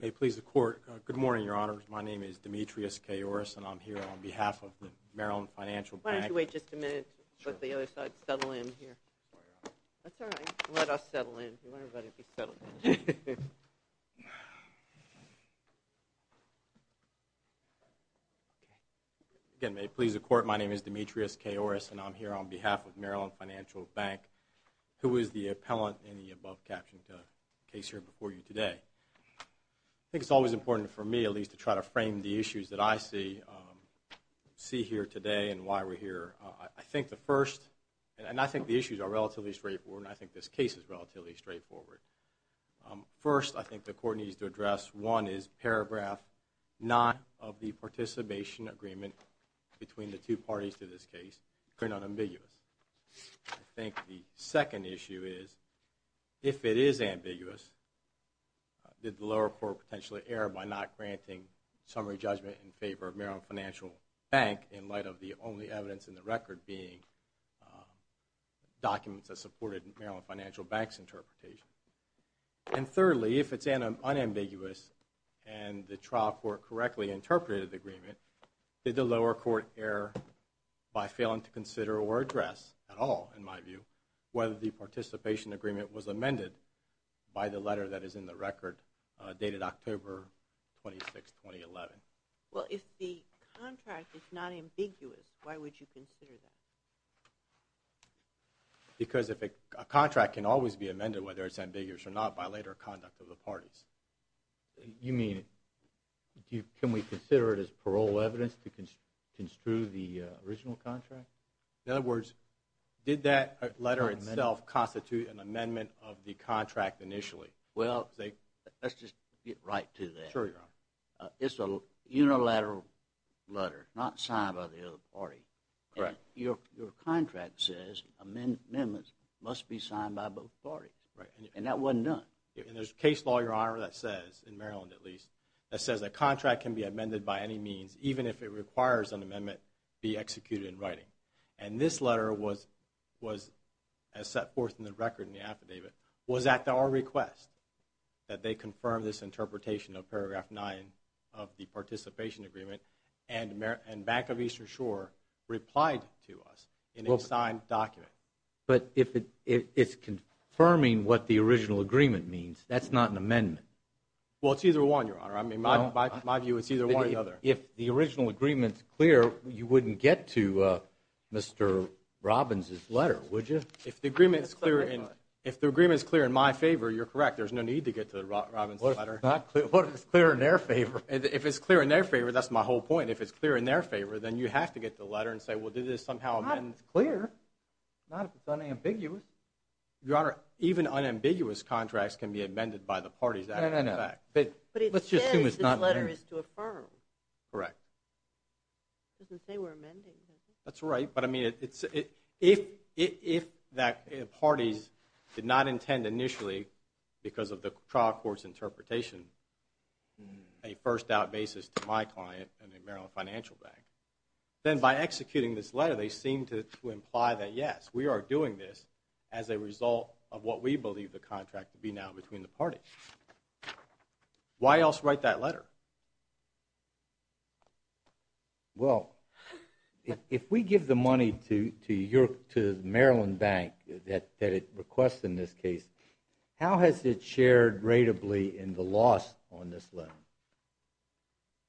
May it please the Court, my name is Demetrius K. Orris and I am here on behalf of the Maryland Financial Bank May it please the Court, my name is Demetrius K. Orris and I am here on behalf of the Maryland Financial Bank who is the appellant in the above-captioned case here before you today. I think it's always important for me at least to try to frame the issues that I see here today and why we're here. I think the first, and I think the issues are relatively straightforward and I think this case is relatively straightforward. First, I think the Court needs to address one is paragraph nine of the participation agreement between the two parties to this case. They're not ambiguous. I think the second issue is if it is ambiguous, did the lower court potentially err by not granting summary judgment in favor of Maryland Financial Bank in light of the only evidence in the record being documents that supported Maryland Financial Bank's interpretation. And thirdly, if it's unambiguous and the trial court correctly interpreted the Did the lower court err by failing to consider or address at all, in my view, whether the participation agreement was amended by the letter that is in the record dated October 26, 2011? Well, if the contract is not ambiguous, why would you consider that? Because if a contract can always be amended whether it's to construe the original contract? In other words, did that letter itself constitute an amendment of the contract initially? Well, let's just get right to that. Sure, Your Honor. It's a unilateral letter, not signed by the other party. Correct. Your contract says amendments must be signed by both parties. And that wasn't done. And there's a case law, Your Honor, that says, in Maryland at least, that says a contract can be amended by any means even if it requires an amendment be executed in writing. And this letter was, as set forth in the record in the affidavit, was at our request that they confirm this interpretation of paragraph 9 of the participation agreement and Bank of Eastern Shore replied to us in a signed document. But if it's confirming what the original agreement means, that's not an amendment. Well, it's either one, Your Honor. I mean, my view is it's either one or the other. If the original agreement is clear, you wouldn't get to Mr. Robbins' letter, would you? If the agreement is clear in my favor, you're correct. There's no need to get to Robbins' letter. What if it's clear in their favor? If it's clear in their favor, that's my whole point. If it's clear in their favor, then you have to get to the contract. Unambiguous contracts can be amended by the parties. But it says this letter is to affirm. Correct. It doesn't say we're amending, does it? That's right. But I mean, if the parties did not intend initially, because of the trial court's interpretation, a first-out basis to my client and the Maryland Financial Bank, then by now between the parties. Why else write that letter? Well, if we give the money to the Maryland Bank that it requests in this case, how has it shared rateably in the loss on this letter?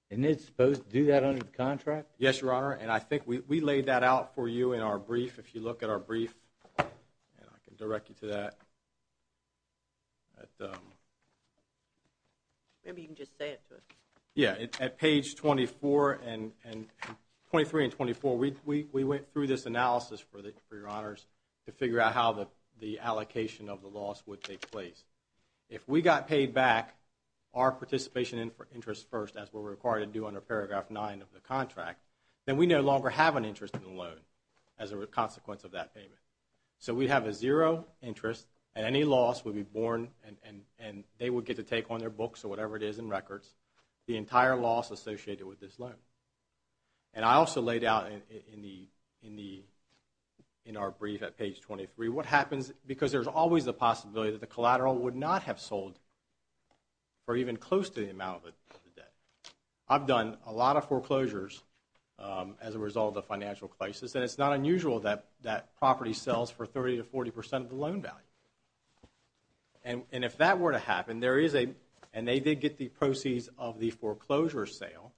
Isn't it supposed to do that under the contract? Yes, Your Honor, and I think we laid that out for you in our brief. If you look at our brief, and I can direct you to that. Maybe you can just say it to us. Yeah, at page 23 and 24, we went through this analysis for Your Honors to figure out how the allocation of the loss would take place. If we got paid back our participation interest first, as we're required to do under paragraph 9 of the contract, then we no longer have an interest in the loan as a consequence of that payment. So we have a zero interest, and any loss would be borne, and they would get to take on their books or whatever it is in records the entire loss associated with this loan. And I also laid out in our brief at page 23 what happens because there's always the possibility that the collateral would not have sold for even close to the amount of the debt. I've done a lot of foreclosures as a result of financial crisis, and it's not unusual that property sells for 30 to 40 percent of the loan value. And if that were to happen, and they did get the proceeds of the foreclosure sale,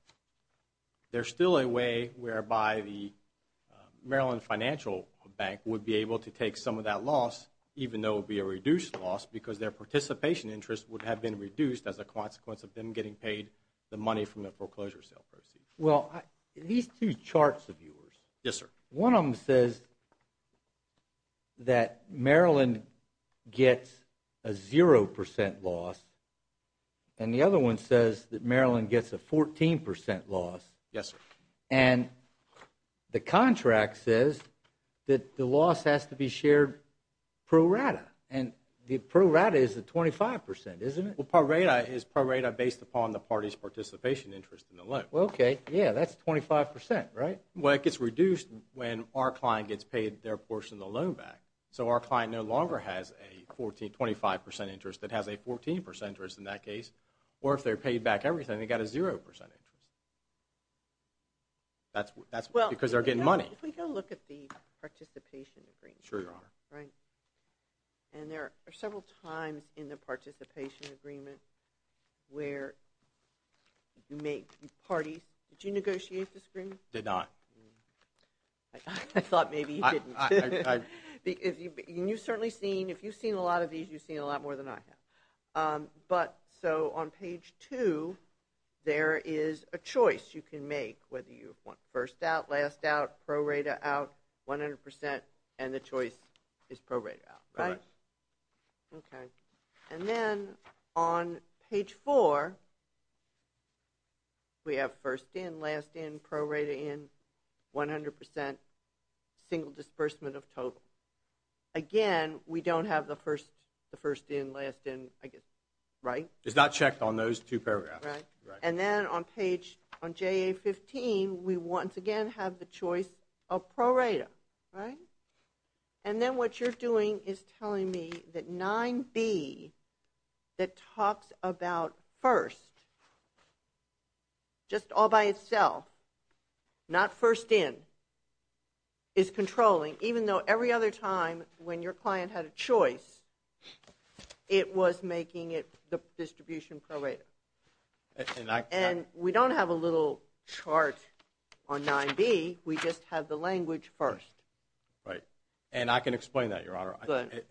there's still a way whereby the Maryland Financial Bank would be able to take some of that loss, even though it would be a reduced loss because their participation interest would have been reduced as a consequence of them getting paid the money from the foreclosure sale proceeds. Well, these two charts of yours. Yes, sir. One of them says that Maryland gets a zero percent loss, and the other one says that Maryland gets a 14 percent loss. Yes, sir. And the contract says that the loss has to be shared pro rata, and the pro rata is the 25 percent, isn't it? Well, pro rata is pro rata based upon the party's participation interest in the loan. Well, okay. Yeah, that's 25 percent, right? Well, it gets reduced when our client gets paid their portion of the loan back. So our client no longer has a 25 percent interest that has a 14 percent interest in that case, or if they're paid back everything, they got a zero percent interest. That's because they're getting money. Well, if we go look at the participation agreement. Sure, Your Honor. And there are several times in the participation agreement where you make parties. Did you negotiate this agreement? Did not. I thought maybe you didn't. You've certainly seen, if you've seen a lot of these, you've seen a lot more than I have. But so on page two, there is a choice you can make whether you want first out, last out, pro rata out, 100 percent, and the choice is pro rata out, right? Correct. Okay. And then on page four, we have first in, last in, pro rata in, 100 percent, single disbursement of total. Again, we don't have the first in, last in, I guess, right? It's not checked on those two paragraphs. Right. And then on page, on JA 15, we once again have the choice of pro rata, right? And then what you're doing is telling me that 9B, that talks about first, just all by itself, not first in, is controlling. Even though every other time when your client had a choice, it was making it the distribution pro rata. And we don't have a little chart on 9B. We just have the language first. Right. And I can explain that, Your Honor. Go ahead.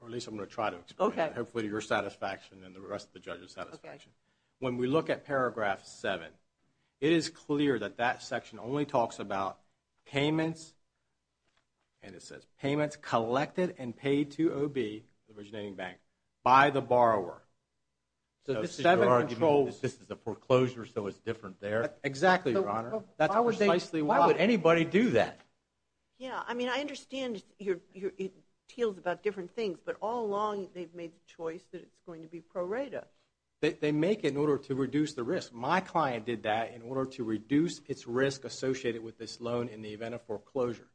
Or at least I'm going to try to explain it. Okay. Hopefully to your satisfaction and the rest of the judges' satisfaction. Okay. When we look at paragraph seven, it is clear that that section only talks about payments, and it says, payments collected and paid to OB, the originating bank, by the borrower. So this is your argument that this is a foreclosure, so it's different there? Exactly, Your Honor. That's precisely why. Why would anybody do that? Yeah, I mean, I understand it teels about different things, but all along they've made the choice that it's going to be pro rata. They make it in order to reduce the risk. My client did that in order to reduce its risk associated with this loan in the event of foreclosure.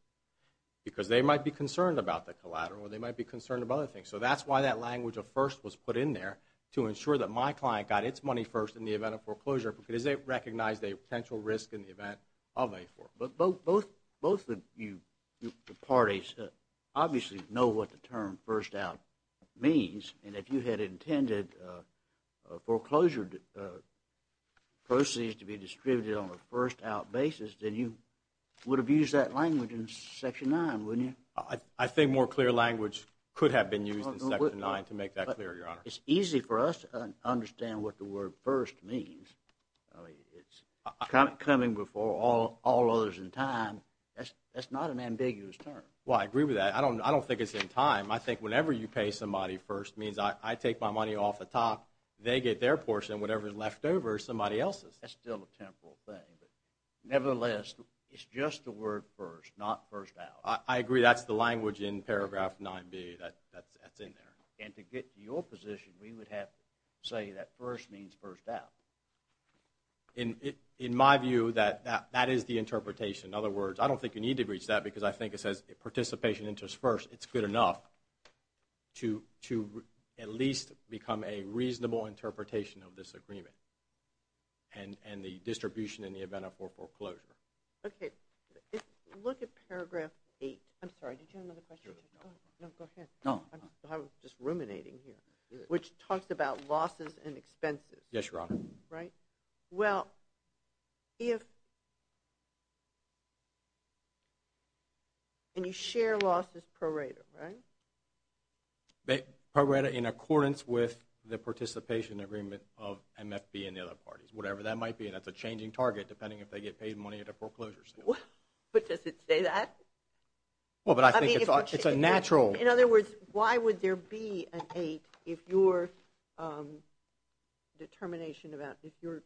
Because they might be concerned about the collateral, or they might be concerned about other things. So that's why that language of first was put in there, to ensure that my client got its money first in the event of foreclosure, because they recognized a potential risk in the event of a foreclosure. Both of you parties obviously know what the term first out means, and if you had intended foreclosure proceeds to be distributed on a first out basis, then you would have used that language in section nine, wouldn't you? I think more clear language could have been used in section nine to make that clear, Your Honor. It's easy for us to understand what the word first means. It's coming before all others in time. That's not an ambiguous term. Well, I agree with that. I don't think it's in time. I think whenever you pay somebody first means I take my money off the top, they get their portion, whatever's left over is somebody else's. That's still a temporal thing. Nevertheless, it's just the word first, not first out. I agree, that's the language in paragraph 9B that's in there. And to get to your position, we would have to say that first means first out. In my view, that is the interpretation. In other words, I don't think you need to reach that, because I think it says participation enters first. It's good enough to at least become a reasonable interpretation of this agreement and the distribution in the event of foreclosure. Okay, look at paragraph 8. I'm sorry, did you have another question? No, go ahead. I'm just ruminating here, which talks about losses and expenses. Yes, Your Honor. Well, if you share losses pro rata, right? Pro rata in accordance with the participation agreement of MFB and the other parties, whatever that might be, and that's a changing target depending if they get paid money at a foreclosure sale. But does it say that? Well, but I think it's a natural... In other words, why would there be an 8 if your determination about, if your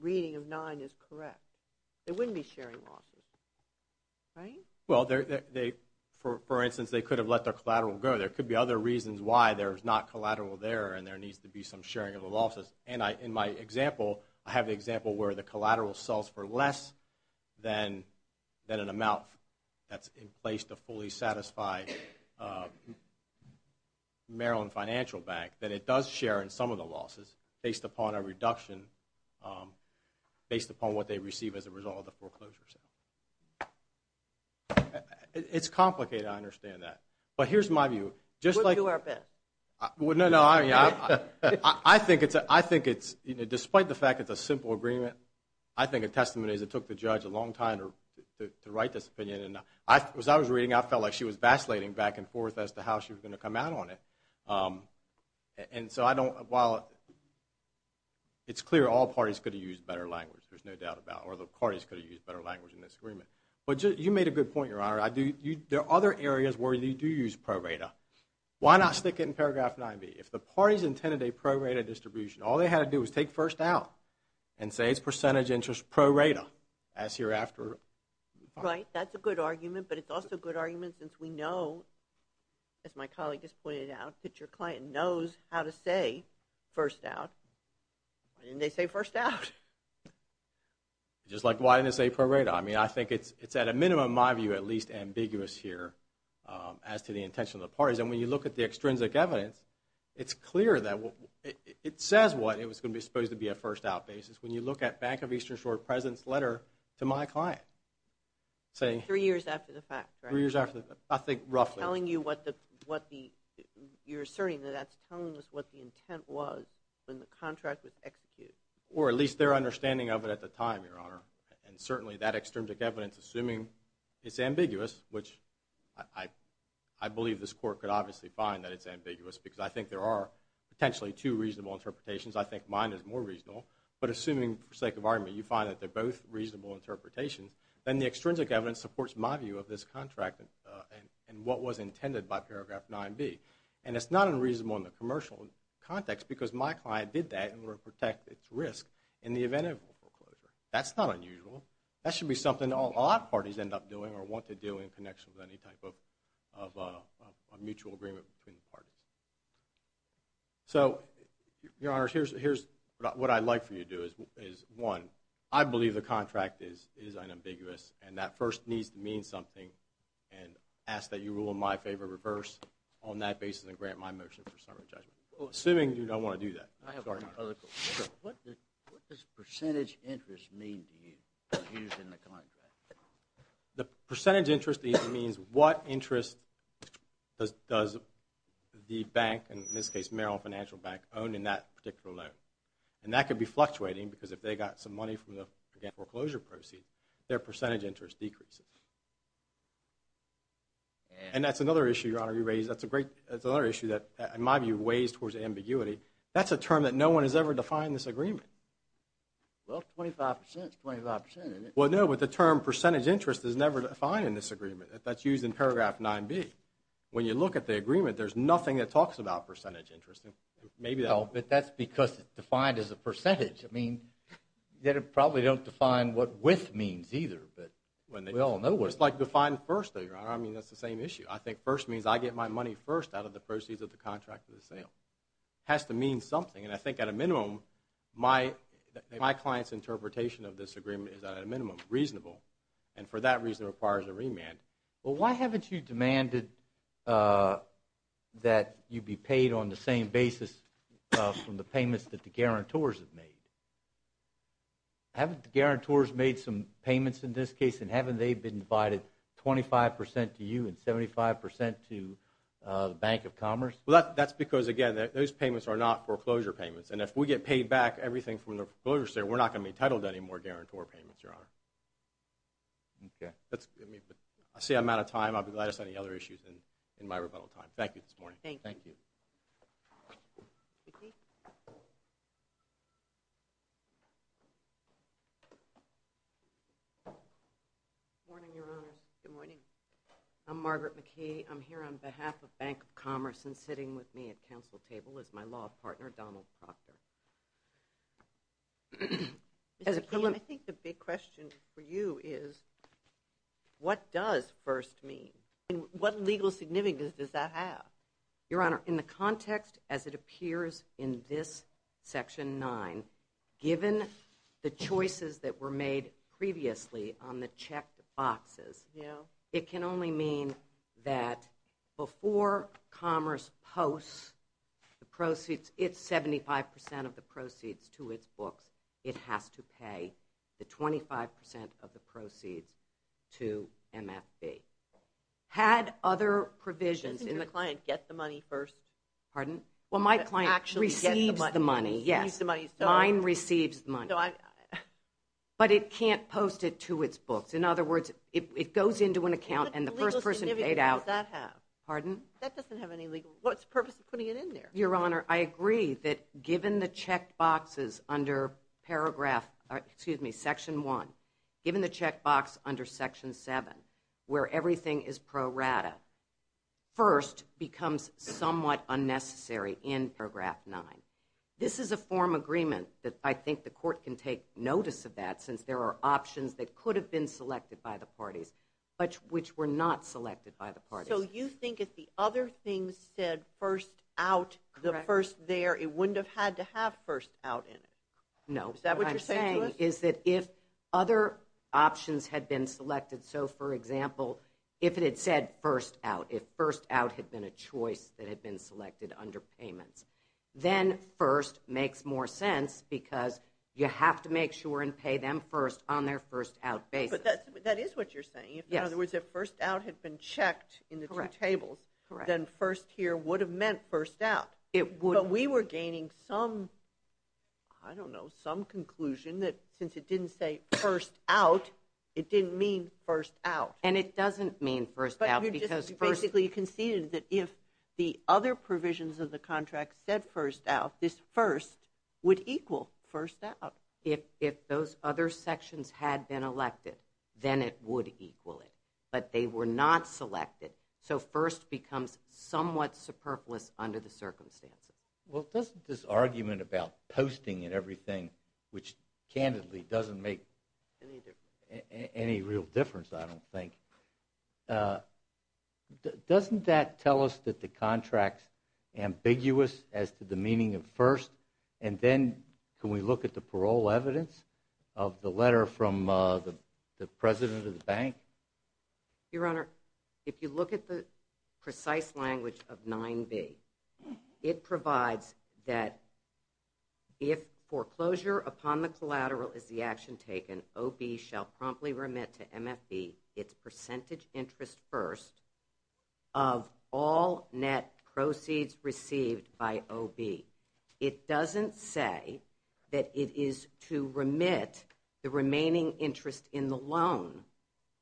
reading of 9 is correct? There wouldn't be sharing losses, right? Well, for instance, they could have let their collateral go. There could be other reasons why there's not collateral there, and there needs to be some sharing of the losses. And in my example, I have the example where the collateral sells for less than an amount that's in place to fully satisfy Maryland Financial Bank that it does share in some of the losses based upon a reduction based upon what they receive as a result of the foreclosure sale. It's complicated, I understand that. But here's my view. We'll do our best. I think it's, despite the fact it's a simple agreement, I think a testament is it took the judge a long time to write this opinion. As I was reading, I felt like she was vacillating back and forth as to how she was going to come out on it. And so I don't, while it's clear all parties could have used better language, there's no doubt about it. Or the parties could have used better language in this agreement. But you made a good point, Your Honor. There are other areas where you do use pro rata. Why not stick it in paragraph 9b? If the parties intended a pro rata distribution, all they had to do was take first out and say it's percentage interest pro rata as hereafter. Right, that's a good argument. But it's also a good argument since we know, as my colleague just pointed out, that your client knows how to say first out. Why didn't they say first out? Just like why didn't they say pro rata? I mean, I think it's at a minimum, my view, at least, ambiguous here as to the intention of the parties. And when you look at the extrinsic evidence, it's clear that it says what it was supposed to be a first out basis when you look at Bank of Eastern Shore President's letter to my client. Three years after the fact, right? Three years after the fact. I think roughly. You're asserting that that's telling us what the intent was when the contract was executed. Or at least their understanding of it at the time, Your Honor. And certainly that extrinsic evidence, assuming it's ambiguous, which I believe this Court could obviously find that it's ambiguous because I think there are potentially two reasonable interpretations. I think mine is more reasonable. But assuming, for the sake of argument, you find that they're both reasonable interpretations, then the extrinsic evidence supports my view of this contract and what was intended by paragraph 9B. And it's not unreasonable in the commercial context because my client did that in order to protect its risk in the event of foreclosure. That's not unusual. That should be something a lot of parties end up doing or want to do in connection with any type of mutual agreement between the parties. So, Your Honor, here's what I'd like for you to do. One, I believe the contract is unambiguous and that first needs to mean something and ask that you rule in my favor, reverse on that basis and grant my motion for summary judgment. Assuming you don't want to do that. What does percentage interest mean to you used in the contract? The percentage interest means what interest does the bank, in this case Merrill Financial Bank, own in that particular loan? And that could be fluctuating because if they got some money from the foreclosure proceed, their percentage interest decreases. And that's another issue, Your Honor, you raised. That's another issue that, in my view, weighs towards ambiguity. That's a term that no one has ever defined in this agreement. Well, 25% is 25%, isn't it? Well, no, but the term percentage interest is never defined in this agreement. That's used in paragraph 9B. When you look at the agreement, there's nothing that talks about percentage interest. Maybe that'll... No, but that's because it's defined as a percentage. I mean, they probably don't define what with means either. We all know what... It's like define first, though, Your Honor. I mean, that's the same issue. I think first means I get my money first out of the proceeds of the contract for the sale. It has to mean something. And I think at a minimum, my client's interpretation of this agreement is at a minimum reasonable. And for that reason, it requires a remand. Well, why haven't you demanded that you be paid on the same basis from the payments that the guarantors have made? Haven't the guarantors made some payments in this case and haven't they been divided 25% to you and 75% to the Bank of Commerce? Well, that's because, again, those payments are not foreclosure payments. And if we get paid back everything from the foreclosure sale, we're not going to be entitled to any more guarantor payments, Your Honor. Okay. I see I'm out of time. I'll be glad to see any other issues in my rebuttal time. Thank you this morning. Thank you. Thank you. Good morning, Your Honors. Good morning. I'm Margaret McKee. I'm here on behalf of Bank of Commerce and sitting with me at council table is my law partner, Donald Proctor. Mr. Keene, I think the big question for you is what does first mean? What legal significance does that have? Your Honor, in the context as it appears in this Section 9, given the choices that were made previously on the checked boxes, it can only mean that before Commerce posts the proceeds, it's 75% of the proceeds to its books, it has to pay the 25% of the proceeds to MFB. Had other provisions... Doesn't your client get the money first? Pardon? Well, my client receives the money, yes. Mine receives the money. But it can't post it to its books. In other words, it goes into an account and the first person paid out... What legal significance does that have? Pardon? That doesn't have any legal... What's the purpose of putting it in there? Your Honor, I agree that given the checked boxes under Section 1, given the checked box under Section 7, where everything is pro rata, first becomes somewhat unnecessary in Paragraph 9. This is a form of agreement that I think the Court can take notice of that since there are options that could have been selected by the parties, but which were not selected by the parties. So you think if the other things said first out, the first there, it wouldn't have had to have first out in it? No. Is that what you're saying to us? What I'm saying is that if other options had been selected, so for example, if it had said first out, if first out had been a choice that had been selected under payments, then first makes more sense because you have to make sure and pay them first on their first out basis. But that is what you're saying. In other words, if first out had been checked in the two tables, then first here would have meant first out. It would. But we were gaining some, I don't know, some conclusion that since it didn't say first out, it didn't mean first out. And it doesn't mean first out because first... But you just basically conceded that if the other provisions of the contract said first out, this first would equal first out. If those other sections had been elected, then it would equal it. But they were not selected. So first becomes somewhat superfluous under the circumstances. Well, doesn't this argument about posting and everything, which candidly doesn't make any real difference, I don't think, doesn't that tell us that the contract's ambiguous as to the meaning of first? And then can we look at the parole evidence of the letter from the president of the bank? Your Honor, if you look at the precise language of 9B, it provides that if foreclosure upon the collateral is the action taken, OB shall promptly remit to MFB its percentage interest first of all net proceeds received by OB. It doesn't say that it is to remit the remaining interest in the loan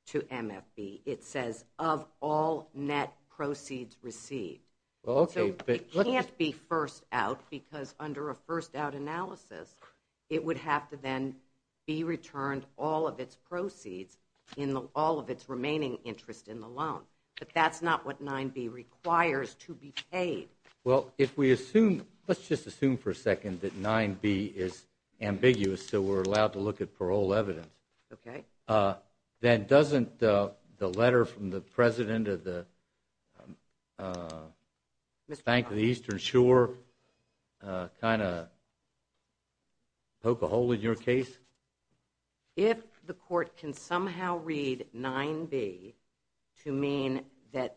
to MFB. It says of all net proceeds received. So it can't be first out because under a first out analysis, it would have to then be returned all of its proceeds in all of its remaining interest in the loan. But that's not what 9B requires to be paid. Well, let's just assume for a second that 9B is ambiguous so we're allowed to look at parole evidence. Okay. Then doesn't the letter from the president of the Bank of the Eastern Shore kind of poke a hole in your case? If the court can somehow read 9B to mean that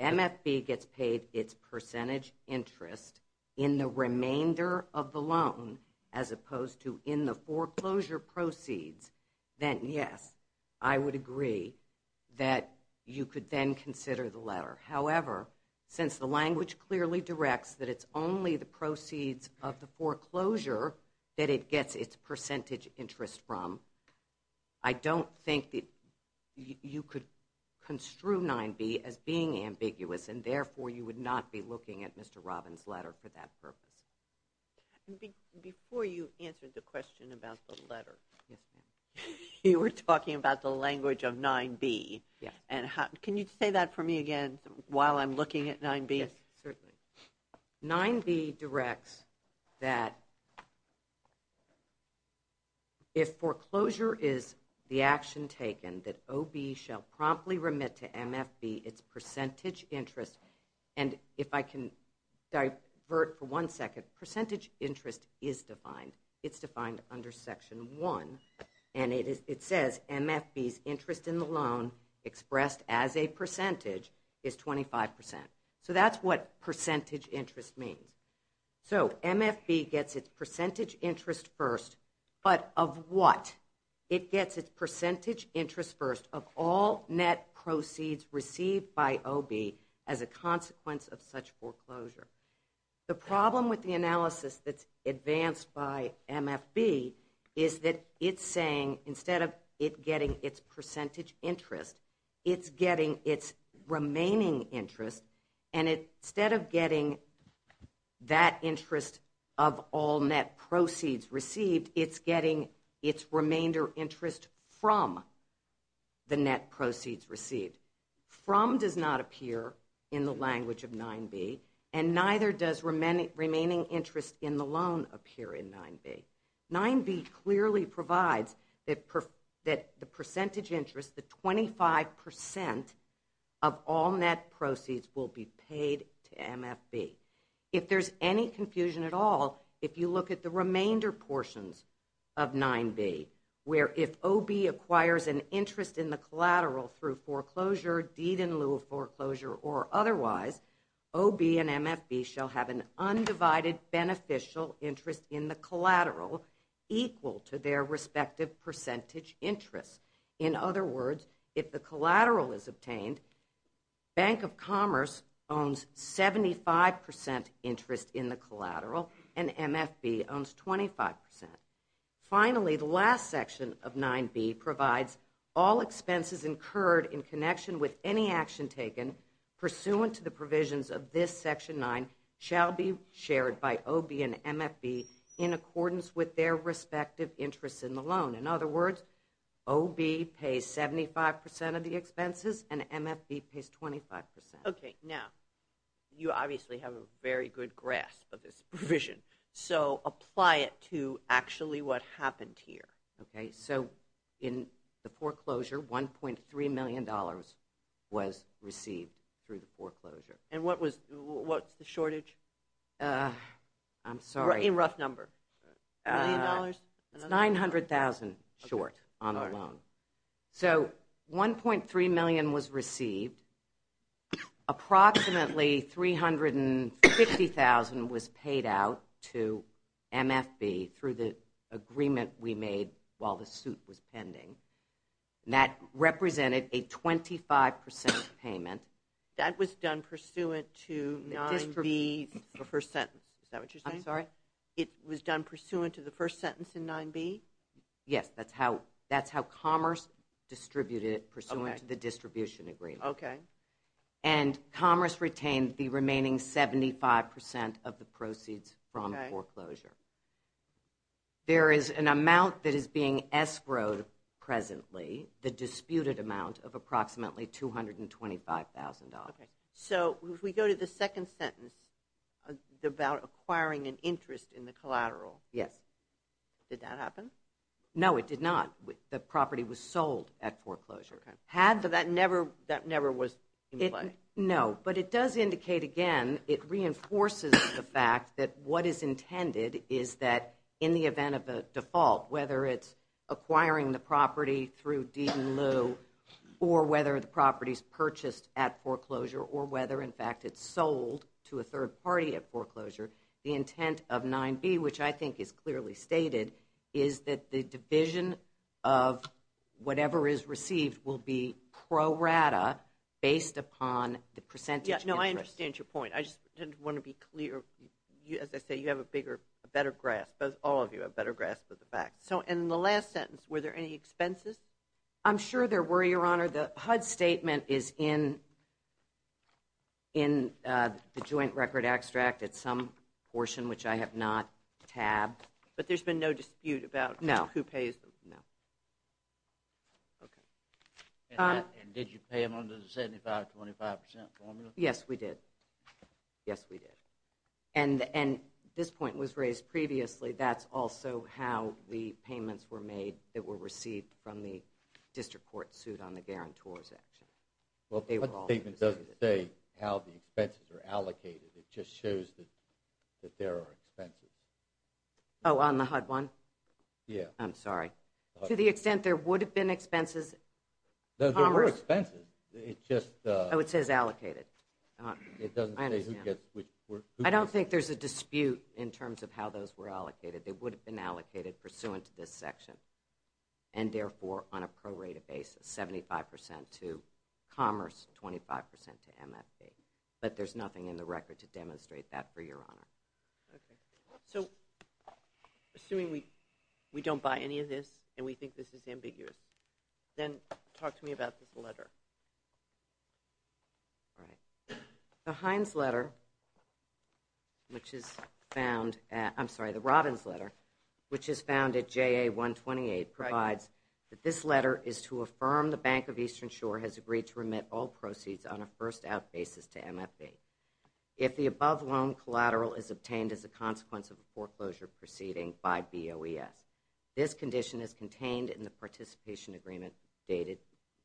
MFB gets paid its percentage interest in the remainder of the loan as opposed to in the foreclosure proceeds, then yes, I would agree that you could then consider the letter. However, since the language clearly directs that it's only the proceeds of the foreclosure that it gets its percentage interest from, I don't think that you could construe 9B as being ambiguous and therefore you would not be looking at Mr. Robbins' letter for that purpose. Before you answer the question about the letter, you were talking about the language of 9B. Can you say that for me again while I'm looking at 9B? Yes, certainly. 9B directs that if foreclosure is the action taken that OB shall promptly remit to MFB its percentage interest and if I can divert for one second, percentage interest is defined. It's defined under Section 1 and it says MFB's interest in the loan expressed as a percentage is 25%. So that's what percentage interest means. So MFB gets its percentage interest first, but of what? It gets its percentage interest first of all net proceeds received by OB as a consequence of such foreclosure. The problem with the analysis that's advanced by MFB is that it's saying instead of it getting its percentage interest, it's getting its remaining interest and instead of getting that interest of all net proceeds received, it's getting its remainder interest from the net proceeds received. From does not appear in the language of 9B and neither does remaining interest in the loan appear in 9B. 9B clearly provides that the percentage interest, the 25% of all net proceeds will be paid to MFB. If there's any confusion at all, if you look at the remainder portions of 9B where if OB acquires an interest in the collateral through foreclosure, deed in lieu of foreclosure or otherwise, OB and MFB shall have an undivided beneficial interest in the collateral equal to their respective percentage interest. In other words, if the collateral is obtained, Bank of Commerce owns 75% interest in the collateral and MFB owns 25%. Finally, the last section of 9B provides all expenses incurred in connection with any action taken pursuant to the provisions of this Section 9 shall be shared by OB and MFB in accordance with their respective interest in the loan. In other words, OB pays 75% of the expenses and MFB pays 25%. Now, you obviously have a very good grasp of this provision. So, apply it to actually what happened here. So, in the foreclosure, $1.3 million was received through the foreclosure. And what's the shortage? I'm sorry. In rough number. It's $900,000 short on a loan. So, $1.3 million was received. Approximately was paid out to MFB through the agreement we made while the suit was pending. That represented a 25% payment. That was done pursuant to 9B's first sentence. Is that what you're saying? It was done pursuant to the first sentence in 9B? Yes. That's how Commerce distributed it pursuant to the distribution agreement. Okay. And Commerce retained the remaining 75% of the proceeds from foreclosure. There is an amount that is being escrowed presently the disputed amount of approximately $225,000. Okay. So, if we go to the second sentence about acquiring an interest in the collateral. Did that happen? No, it did not. The property was sold at foreclosure. That never was in play? No, but it does indicate again it reinforces the fact that what is intended is that in the event of a default whether it's acquiring the property through Deed and Lew or whether the property is purchased at foreclosure or whether in fact it's sold to a third party at foreclosure, the intent of 9B, which I think is clearly stated is that the division of whatever is received will be pro rata based upon the percentage interest. I understand your point. I just want to be clear. As I say, you have a better grasp. All of you have a better grasp of the facts. In the last sentence, were there any expenses? I'm sure there were, Your Honor. The HUD statement is in the joint record extract at some portion which I have not tabbed. But there's been no dispute about who pays them? No. And did you pay them under the 75-25% formula? Yes, we did. And this point was raised previously. That's also how the payments were made that were received from the district court suit on the guarantor's action. Well, the HUD statement doesn't say how the expenses are allocated. It just shows that there are expenses. Oh, on the HUD one? I'm sorry. To the extent there would have been expenses? There were expenses. Oh, it says allocated. I understand. I don't think there's a dispute in terms of how those were allocated. They would have been allocated pursuant to this section. And therefore, on a prorated basis, 75% to Commerce, 25% to MFB. But there's nothing in the record to demonstrate that, for Your Honor. Assuming we don't buy any of this and we think this is ambiguous, then talk to me about this letter. The Heinz letter, which is found at, I'm sorry, the Robbins letter, which is found at JA-128 provides that this letter is to affirm the Bank of Eastern Shore has agreed to remit all proceeds on a first-out basis to MFB if the above loan collateral is obtained as a consequence of a foreclosure proceeding by BOES. This condition is contained in the participation agreement dated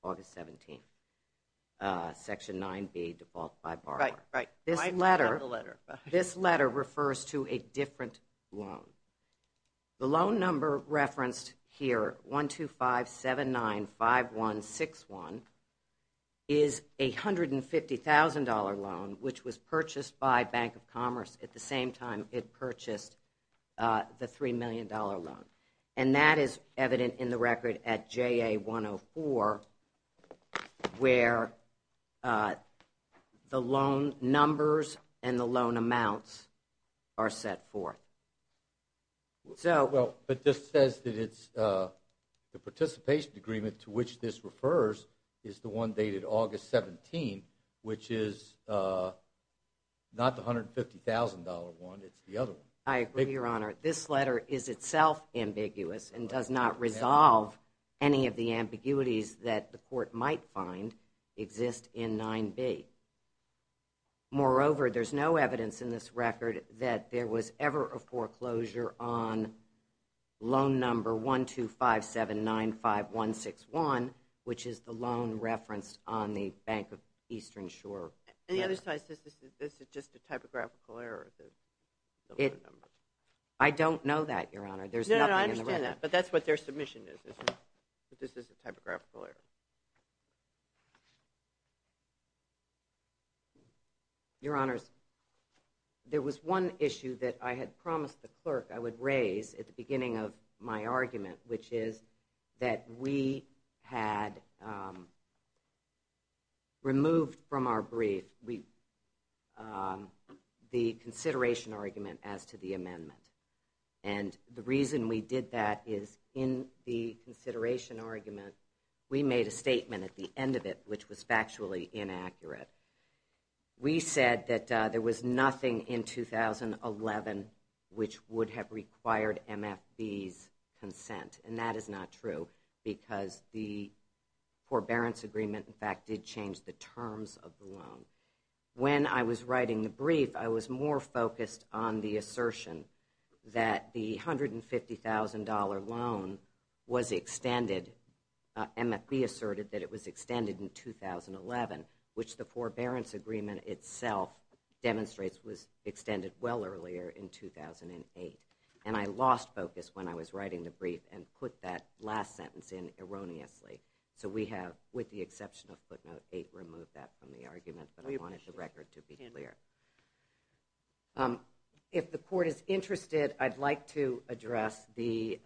August 17th, section 9B, default by borrower. This letter refers to a different loan. The loan number referenced here, 125-79-5161, is a $150,000 loan, which was purchased by Bank of Commerce at the same time it purchased the $3 million loan. And that is evident in the record at JA-104 where the loan numbers and the loan amounts are set forth. But this says that it's the participation agreement to which this refers is the one dated August 17th, which is not the $150,000 one, it's the other one. I agree, Your Honor. This letter is itself ambiguous and does not resolve any of the ambiguities that the court might find exist in 9B. Moreover, there's no evidence in this record that there was ever a foreclosure on loan number 125-79-5161, which is the loan referenced on the Bank of Eastern Shore. And the other side says this is just a typographical error. I don't know that, Your Honor. There's nothing in the record. No, I understand that, but that's what their submission is, that this is a typographical error. Your Honors, there was one issue that I had promised the clerk I would raise at the beginning of my argument, which is that we had removed from our brief the consideration argument as to the amendment. And the reason we did that is in the consideration argument we made a statement at the end of it, which was factually inaccurate. We said that there was nothing in 2011 which would have required MFB's consent. And that is not true, because the forbearance agreement in fact did change the terms of the loan. When I was writing the brief, I was more focused on the assertion that the $150,000 loan was extended MFB asserted that it was extended in 2011, which the forbearance agreement itself demonstrates was extended well earlier in 2008. And I lost focus when I was writing the brief and put that last sentence in erroneously. So we have, with the exception of footnote 8, removed that from the argument. But I wanted the record to be clear. If the court is interested, I'd like to address the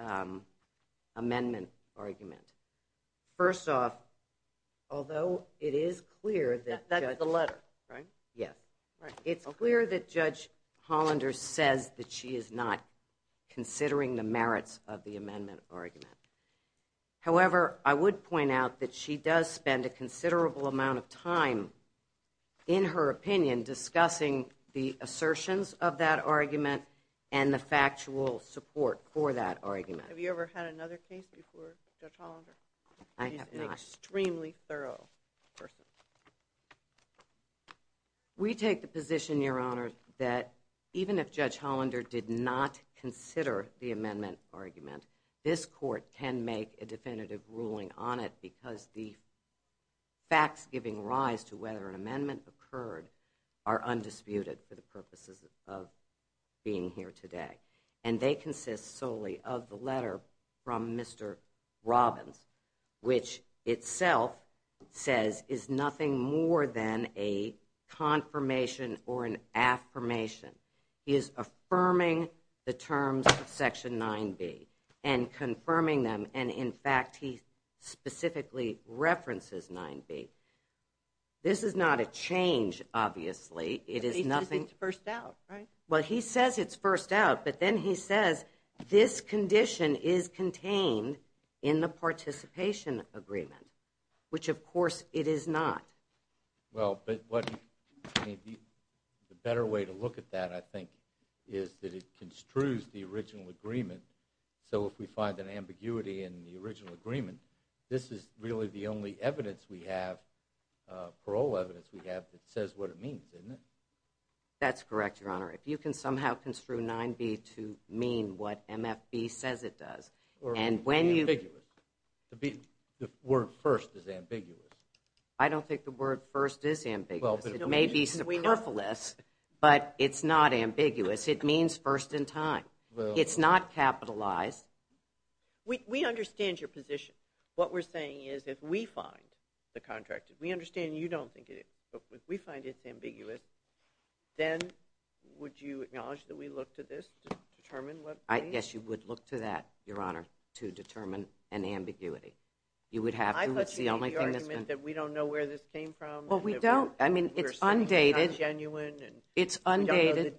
amendment argument. First off, although it is clear that... That's the letter, right? Yes. It's clear that Judge Hollander says that she is not considering the merits of the amendment argument. However, I would point out that she does spend a considerable amount of time in her opinion discussing the assertions of that argument and the factual support for that argument. Have you ever had another case before Judge Hollander? I have not. He's an extremely thorough person. We take the position, Your Honor, that even if Judge Hollander did not consider the amendment argument, this court can make a definitive ruling on it because the facts giving rise to whether an amendment occurred are undisputed for the purposes of being here today. And they consist solely of the letter from Mr. Robbins, which itself says is nothing more than a confirmation or an affirmation. He is affirming the terms of Section 9b and confirming them and in fact he specifically references 9b. This is not a change obviously. It is nothing. He says it's first out, right? Well, he says it's first out, but then he says this condition is contained in the participation agreement, which of course it is not. Well, but what the better way to look at that, I think, is that it construes the original agreement so if we find an ambiguity in the original agreement, this is really the only evidence we have, parole evidence we have, that says what it means, doesn't it? That's correct, Your Honor. If you can somehow construe 9b to mean what MFB says it does and when you... The word first is ambiguous. I don't think the word first is ambiguous. It may be perfilous, but it's not ambiguous. It means first in time. It's not capitalized. We understand your position. What we're saying is if we find the contract, we understand you don't think it is, but if we find it's ambiguous, then would you acknowledge that we look to this to determine what it means? I guess you would look to that, Your Honor, to determine an ambiguity. You would have to. I thought you made the argument that we don't know where this came from. Well, we don't. I mean, it's undated. It's undated.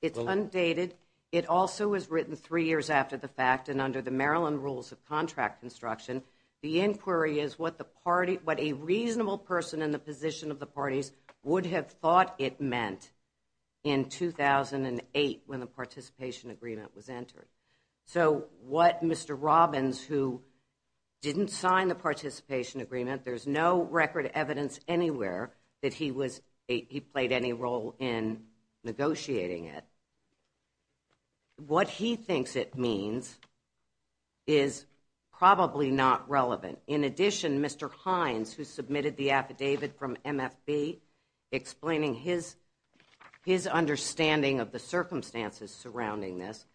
It's undated. It also was written three years after the fact and under the Maryland Rules of Contract Construction. The inquiry is what a reasonable person in the position of the parties would have thought it meant in 2008 when the participation agreement was entered. So, what Mr. Robbins, who didn't sign the participation agreement, there's no record evidence anywhere that he played any role in negotiating it, what he thinks it means is probably not relevant. In addition, Mr. Hines, who submitted the affidavit from MFB explaining his understanding of the circumstances surrounding this,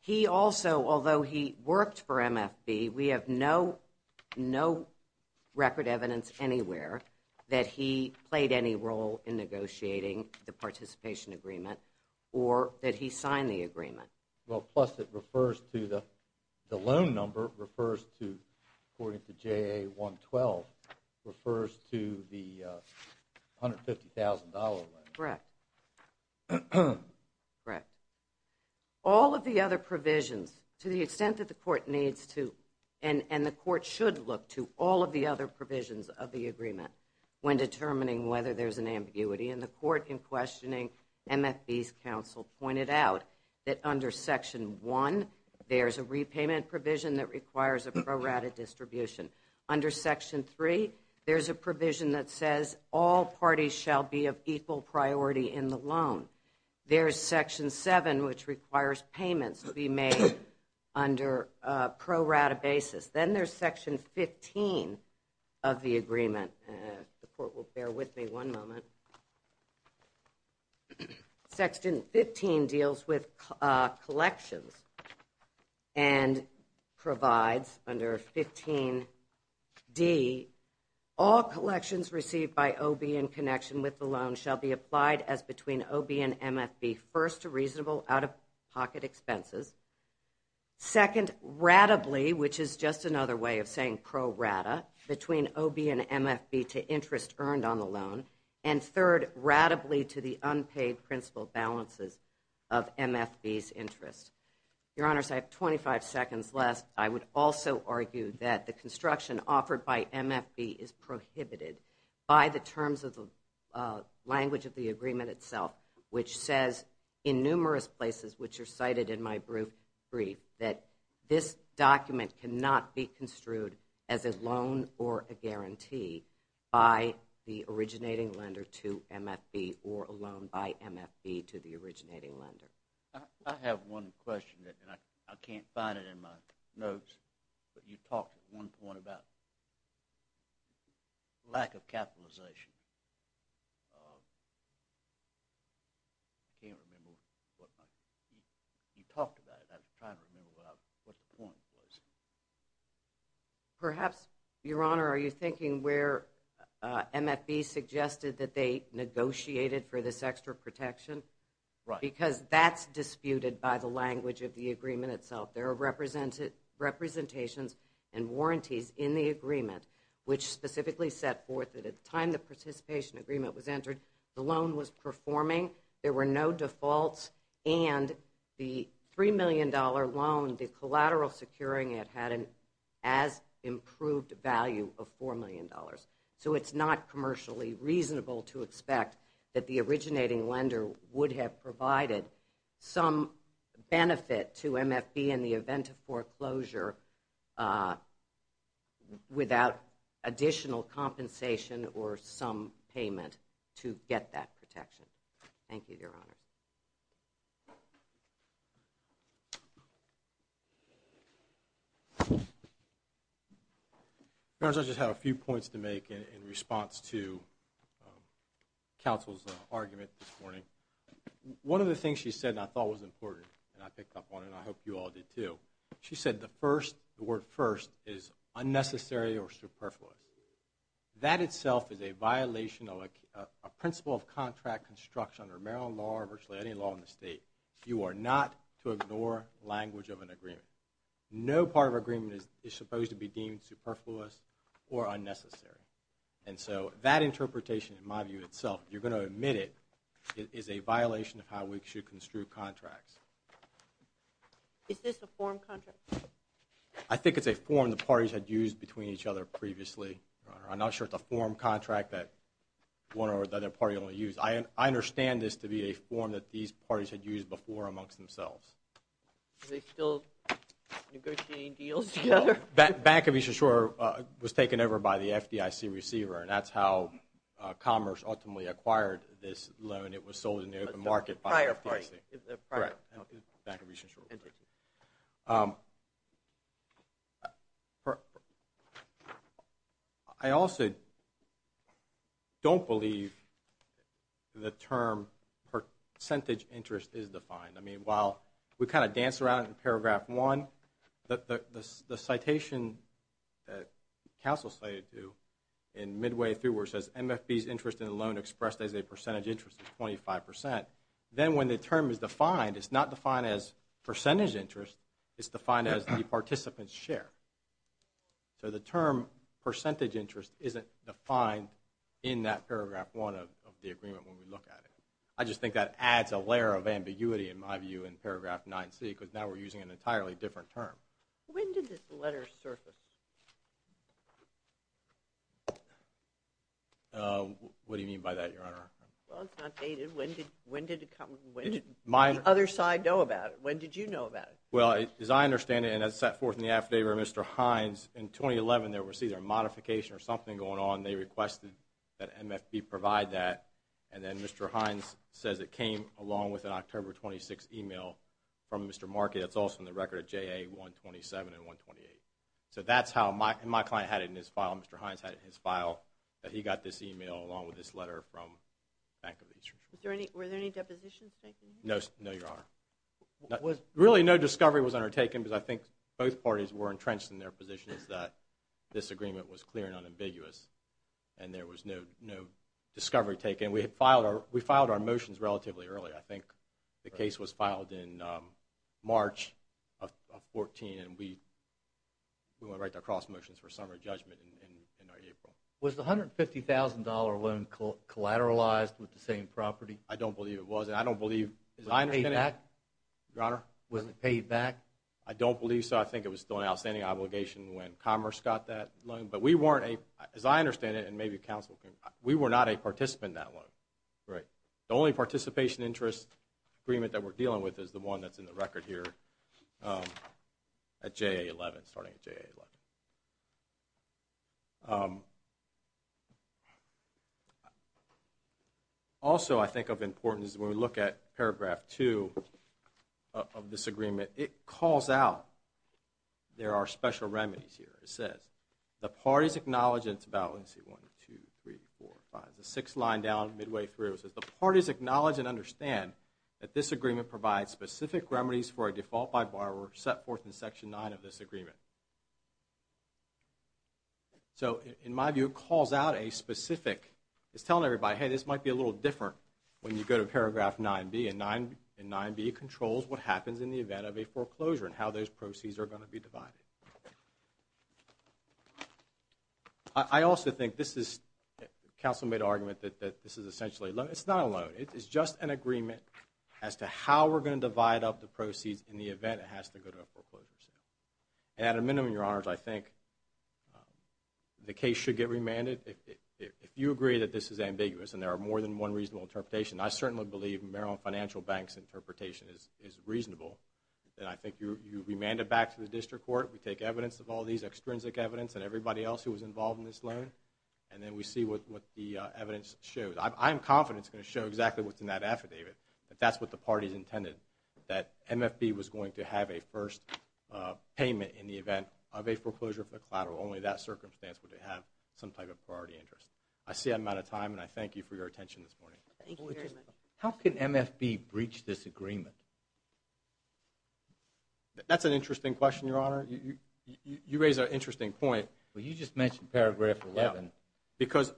he also, although he worked for MFB, we have no record evidence anywhere that he played any role in negotiating the participation agreement or that he signed the agreement. Well, plus it refers to the loan number refers to, according to JA 112, refers to the $150,000 loan. Correct. Correct. All of the other provisions, to the extent that I can, and the Court should look to all of the other provisions of the agreement when determining whether there's an ambiguity, and the Court in questioning MFB's counsel pointed out that under Section 1, there's a repayment provision that requires a pro rata distribution. Under Section 3, there's a provision that says all parties shall be of equal priority in the loan. There's Section 7, which requires payments to be made under a pro rata basis. Then there's Section 15 of the agreement. The Court will bear with me one moment. Section 15 deals with collections and provides under 15 D, all collections received by OB in connection with the loan shall be applied as between OB and MFB first to reasonable out-of-pocket expenses, second, ratably, which is just another way of saying pro rata, between OB and MFB to interest earned on the loan, and third, ratably to the unpaid principal balances of MFB's interest. Your Honors, I have 25 seconds left. I would also argue that the construction offered by MFB is prohibited by the terms of the language of the in numerous places which are cited in my brief that this document cannot be construed as a loan or a guarantee by the originating lender to MFB or a loan by MFB to the originating lender. I have one question that I can't find it in my notes, but you talked at one point about lack of capitalization. I can't remember what you talked about. I'm trying to remember what the point was. Perhaps, Your Honor, are you thinking where MFB suggested that they negotiated for this extra protection? Right. Because that's disputed by the language of the agreement itself. There are representations and warranties in the agreement which specifically set forth that at the time the participants agreement was entered, the loan was performing, there were no defaults, and the $3 million loan, the collateral securing it had an as-improved value of $4 million. It's not commercially reasonable to expect that the originating lender would have provided some benefit to MFB in the event of foreclosure without additional compensation or some payment to get that protection. Thank you, Your Honor. Your Honor, I just have a few points to make in response to counsel's argument this morning. One of the things she said, and I thought was important, and I picked up on it, and I hope you all did too. She said the first, the word first is unnecessary or superfluous. That itself is a violation of a principle of contract construction under Maryland law or virtually any law in the state. You are not to ignore language of an agreement. No part of an agreement is supposed to be deemed superfluous or unnecessary. That interpretation, in my view itself, if you're going to omit it, is a violation of how we should construe contracts. Is this a form contract? I think it's a form the parties had used between each other previously. I'm not sure it's a form contract that one or the other party only used. I understand this to be a form that these parties had used before amongst themselves. Are they still negotiating deals together? Bank of Eastern Shore was taken over by the FDIC receiver, and that's how Commerce ultimately acquired this loan. It was sold in the open market by the FDIC. Prior party. Bank of Eastern Shore. I also don't believe the term percentage interest is defined. While we kind of dance around in paragraph one, the citation that counsel cited to in midway through where it says, MFB's interest in the loan expressed as a percentage interest is 25%, then when the term is defined, it's not defined as percentage interest, it's defined as the participant's share. So the term percentage interest isn't defined in that paragraph one of the agreement when we look at it. I just think that adds a layer of ambiguity in my view in paragraph 9C, because now we're using an entirely different term. When did this letter surface? Uh, what do you mean by that, Your Honor? Well, it's not dated. When did the other side know about it? When did you know about it? Well, as I understand it, and as set forth in the affidavit by Mr. Hines, in 2011 there was either a modification or something going on. They requested that MFB provide that, and then Mr. Hines says it came along with an October 26 email from Mr. Markey that's also in the record of JA-127 and 128. So that's how my client had it in his file. Mr. Hines had it in his file that he got this email along with this letter from Bank of the Eastern Shore. Were there any depositions taken here? No, Your Honor. Really, no discovery was undertaken because I think both parties were entrenched in their positions that this agreement was clear and unambiguous and there was no discovery taken. We filed our motions relatively early. I think the case was filed in March of 2014, and we went right to cross motions for summary judgment in April. Was the $150,000 loan collateralized with the same property? I don't believe it was, and I don't believe... Was it paid back? Your Honor? Was it paid back? I don't believe so. I think it was still an outstanding obligation when Commerce got that loan, but we weren't a... as I understand it and maybe counsel can... we were not a participant in that loan. Right. The only participation interest agreement that we're dealing with is the one that's in the record here at JA-11, starting at JA-11. Also, I think of importance is when we look at paragraph 2 of this agreement, it calls out there are special remedies here. It says the parties acknowledge and it's about... 1, 2, 3, 4, 5, 6 line down midway through. It says the parties acknowledge and understand that this is where a default by borrower set forth in section 9 of this agreement. So, in my view, it calls out a specific... it's telling everybody, hey, this might be a little different when you go to paragraph 9b, and 9b controls what happens in the event of a foreclosure and how those proceeds are going to be divided. I also think this is... counsel made an argument that this is essentially... it's not a loan. It's just an agreement as to how we're going to divide up the proceeds in the event it has to go to a foreclosure sale. And at a minimum, Your Honors, I think the case should get remanded. If you agree that this is ambiguous and there are more than one reasonable interpretation, I certainly believe Maryland Financial Bank's interpretation is reasonable. And I think you remand it back to the District Court. We take evidence of all these, extrinsic evidence, and everybody else who was involved in this loan, and then we see what the evidence shows. I'm confident it's going to show exactly what's in that affidavit. That's what the parties intended. That MFB was going to have a first payment in the event of a foreclosure for the collateral. Only in that circumstance would they have some type of priority interest. I see I'm out of time, and I thank you for your attention this morning. How can MFB breach this agreement? That's an interesting question, Your Honor. You raise an interesting point. Well, you just mentioned paragraph 11. Because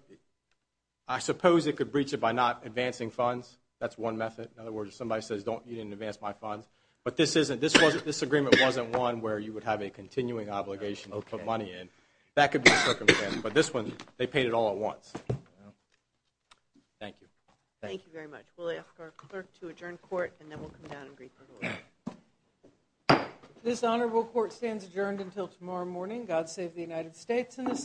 I suppose it could breach it by not advancing funds. That's one method. In other words, if somebody says, you didn't advance my funds. But this agreement wasn't one where you would have a continuing obligation to put money in. That could be a circumstance. But this one, they paid it all at once. Thank you. Thank you very much. We'll ask our clerk to adjourn court, and then we'll come down and greet the Court. This Honorable Court stands adjourned until tomorrow morning. God save the United States and this country.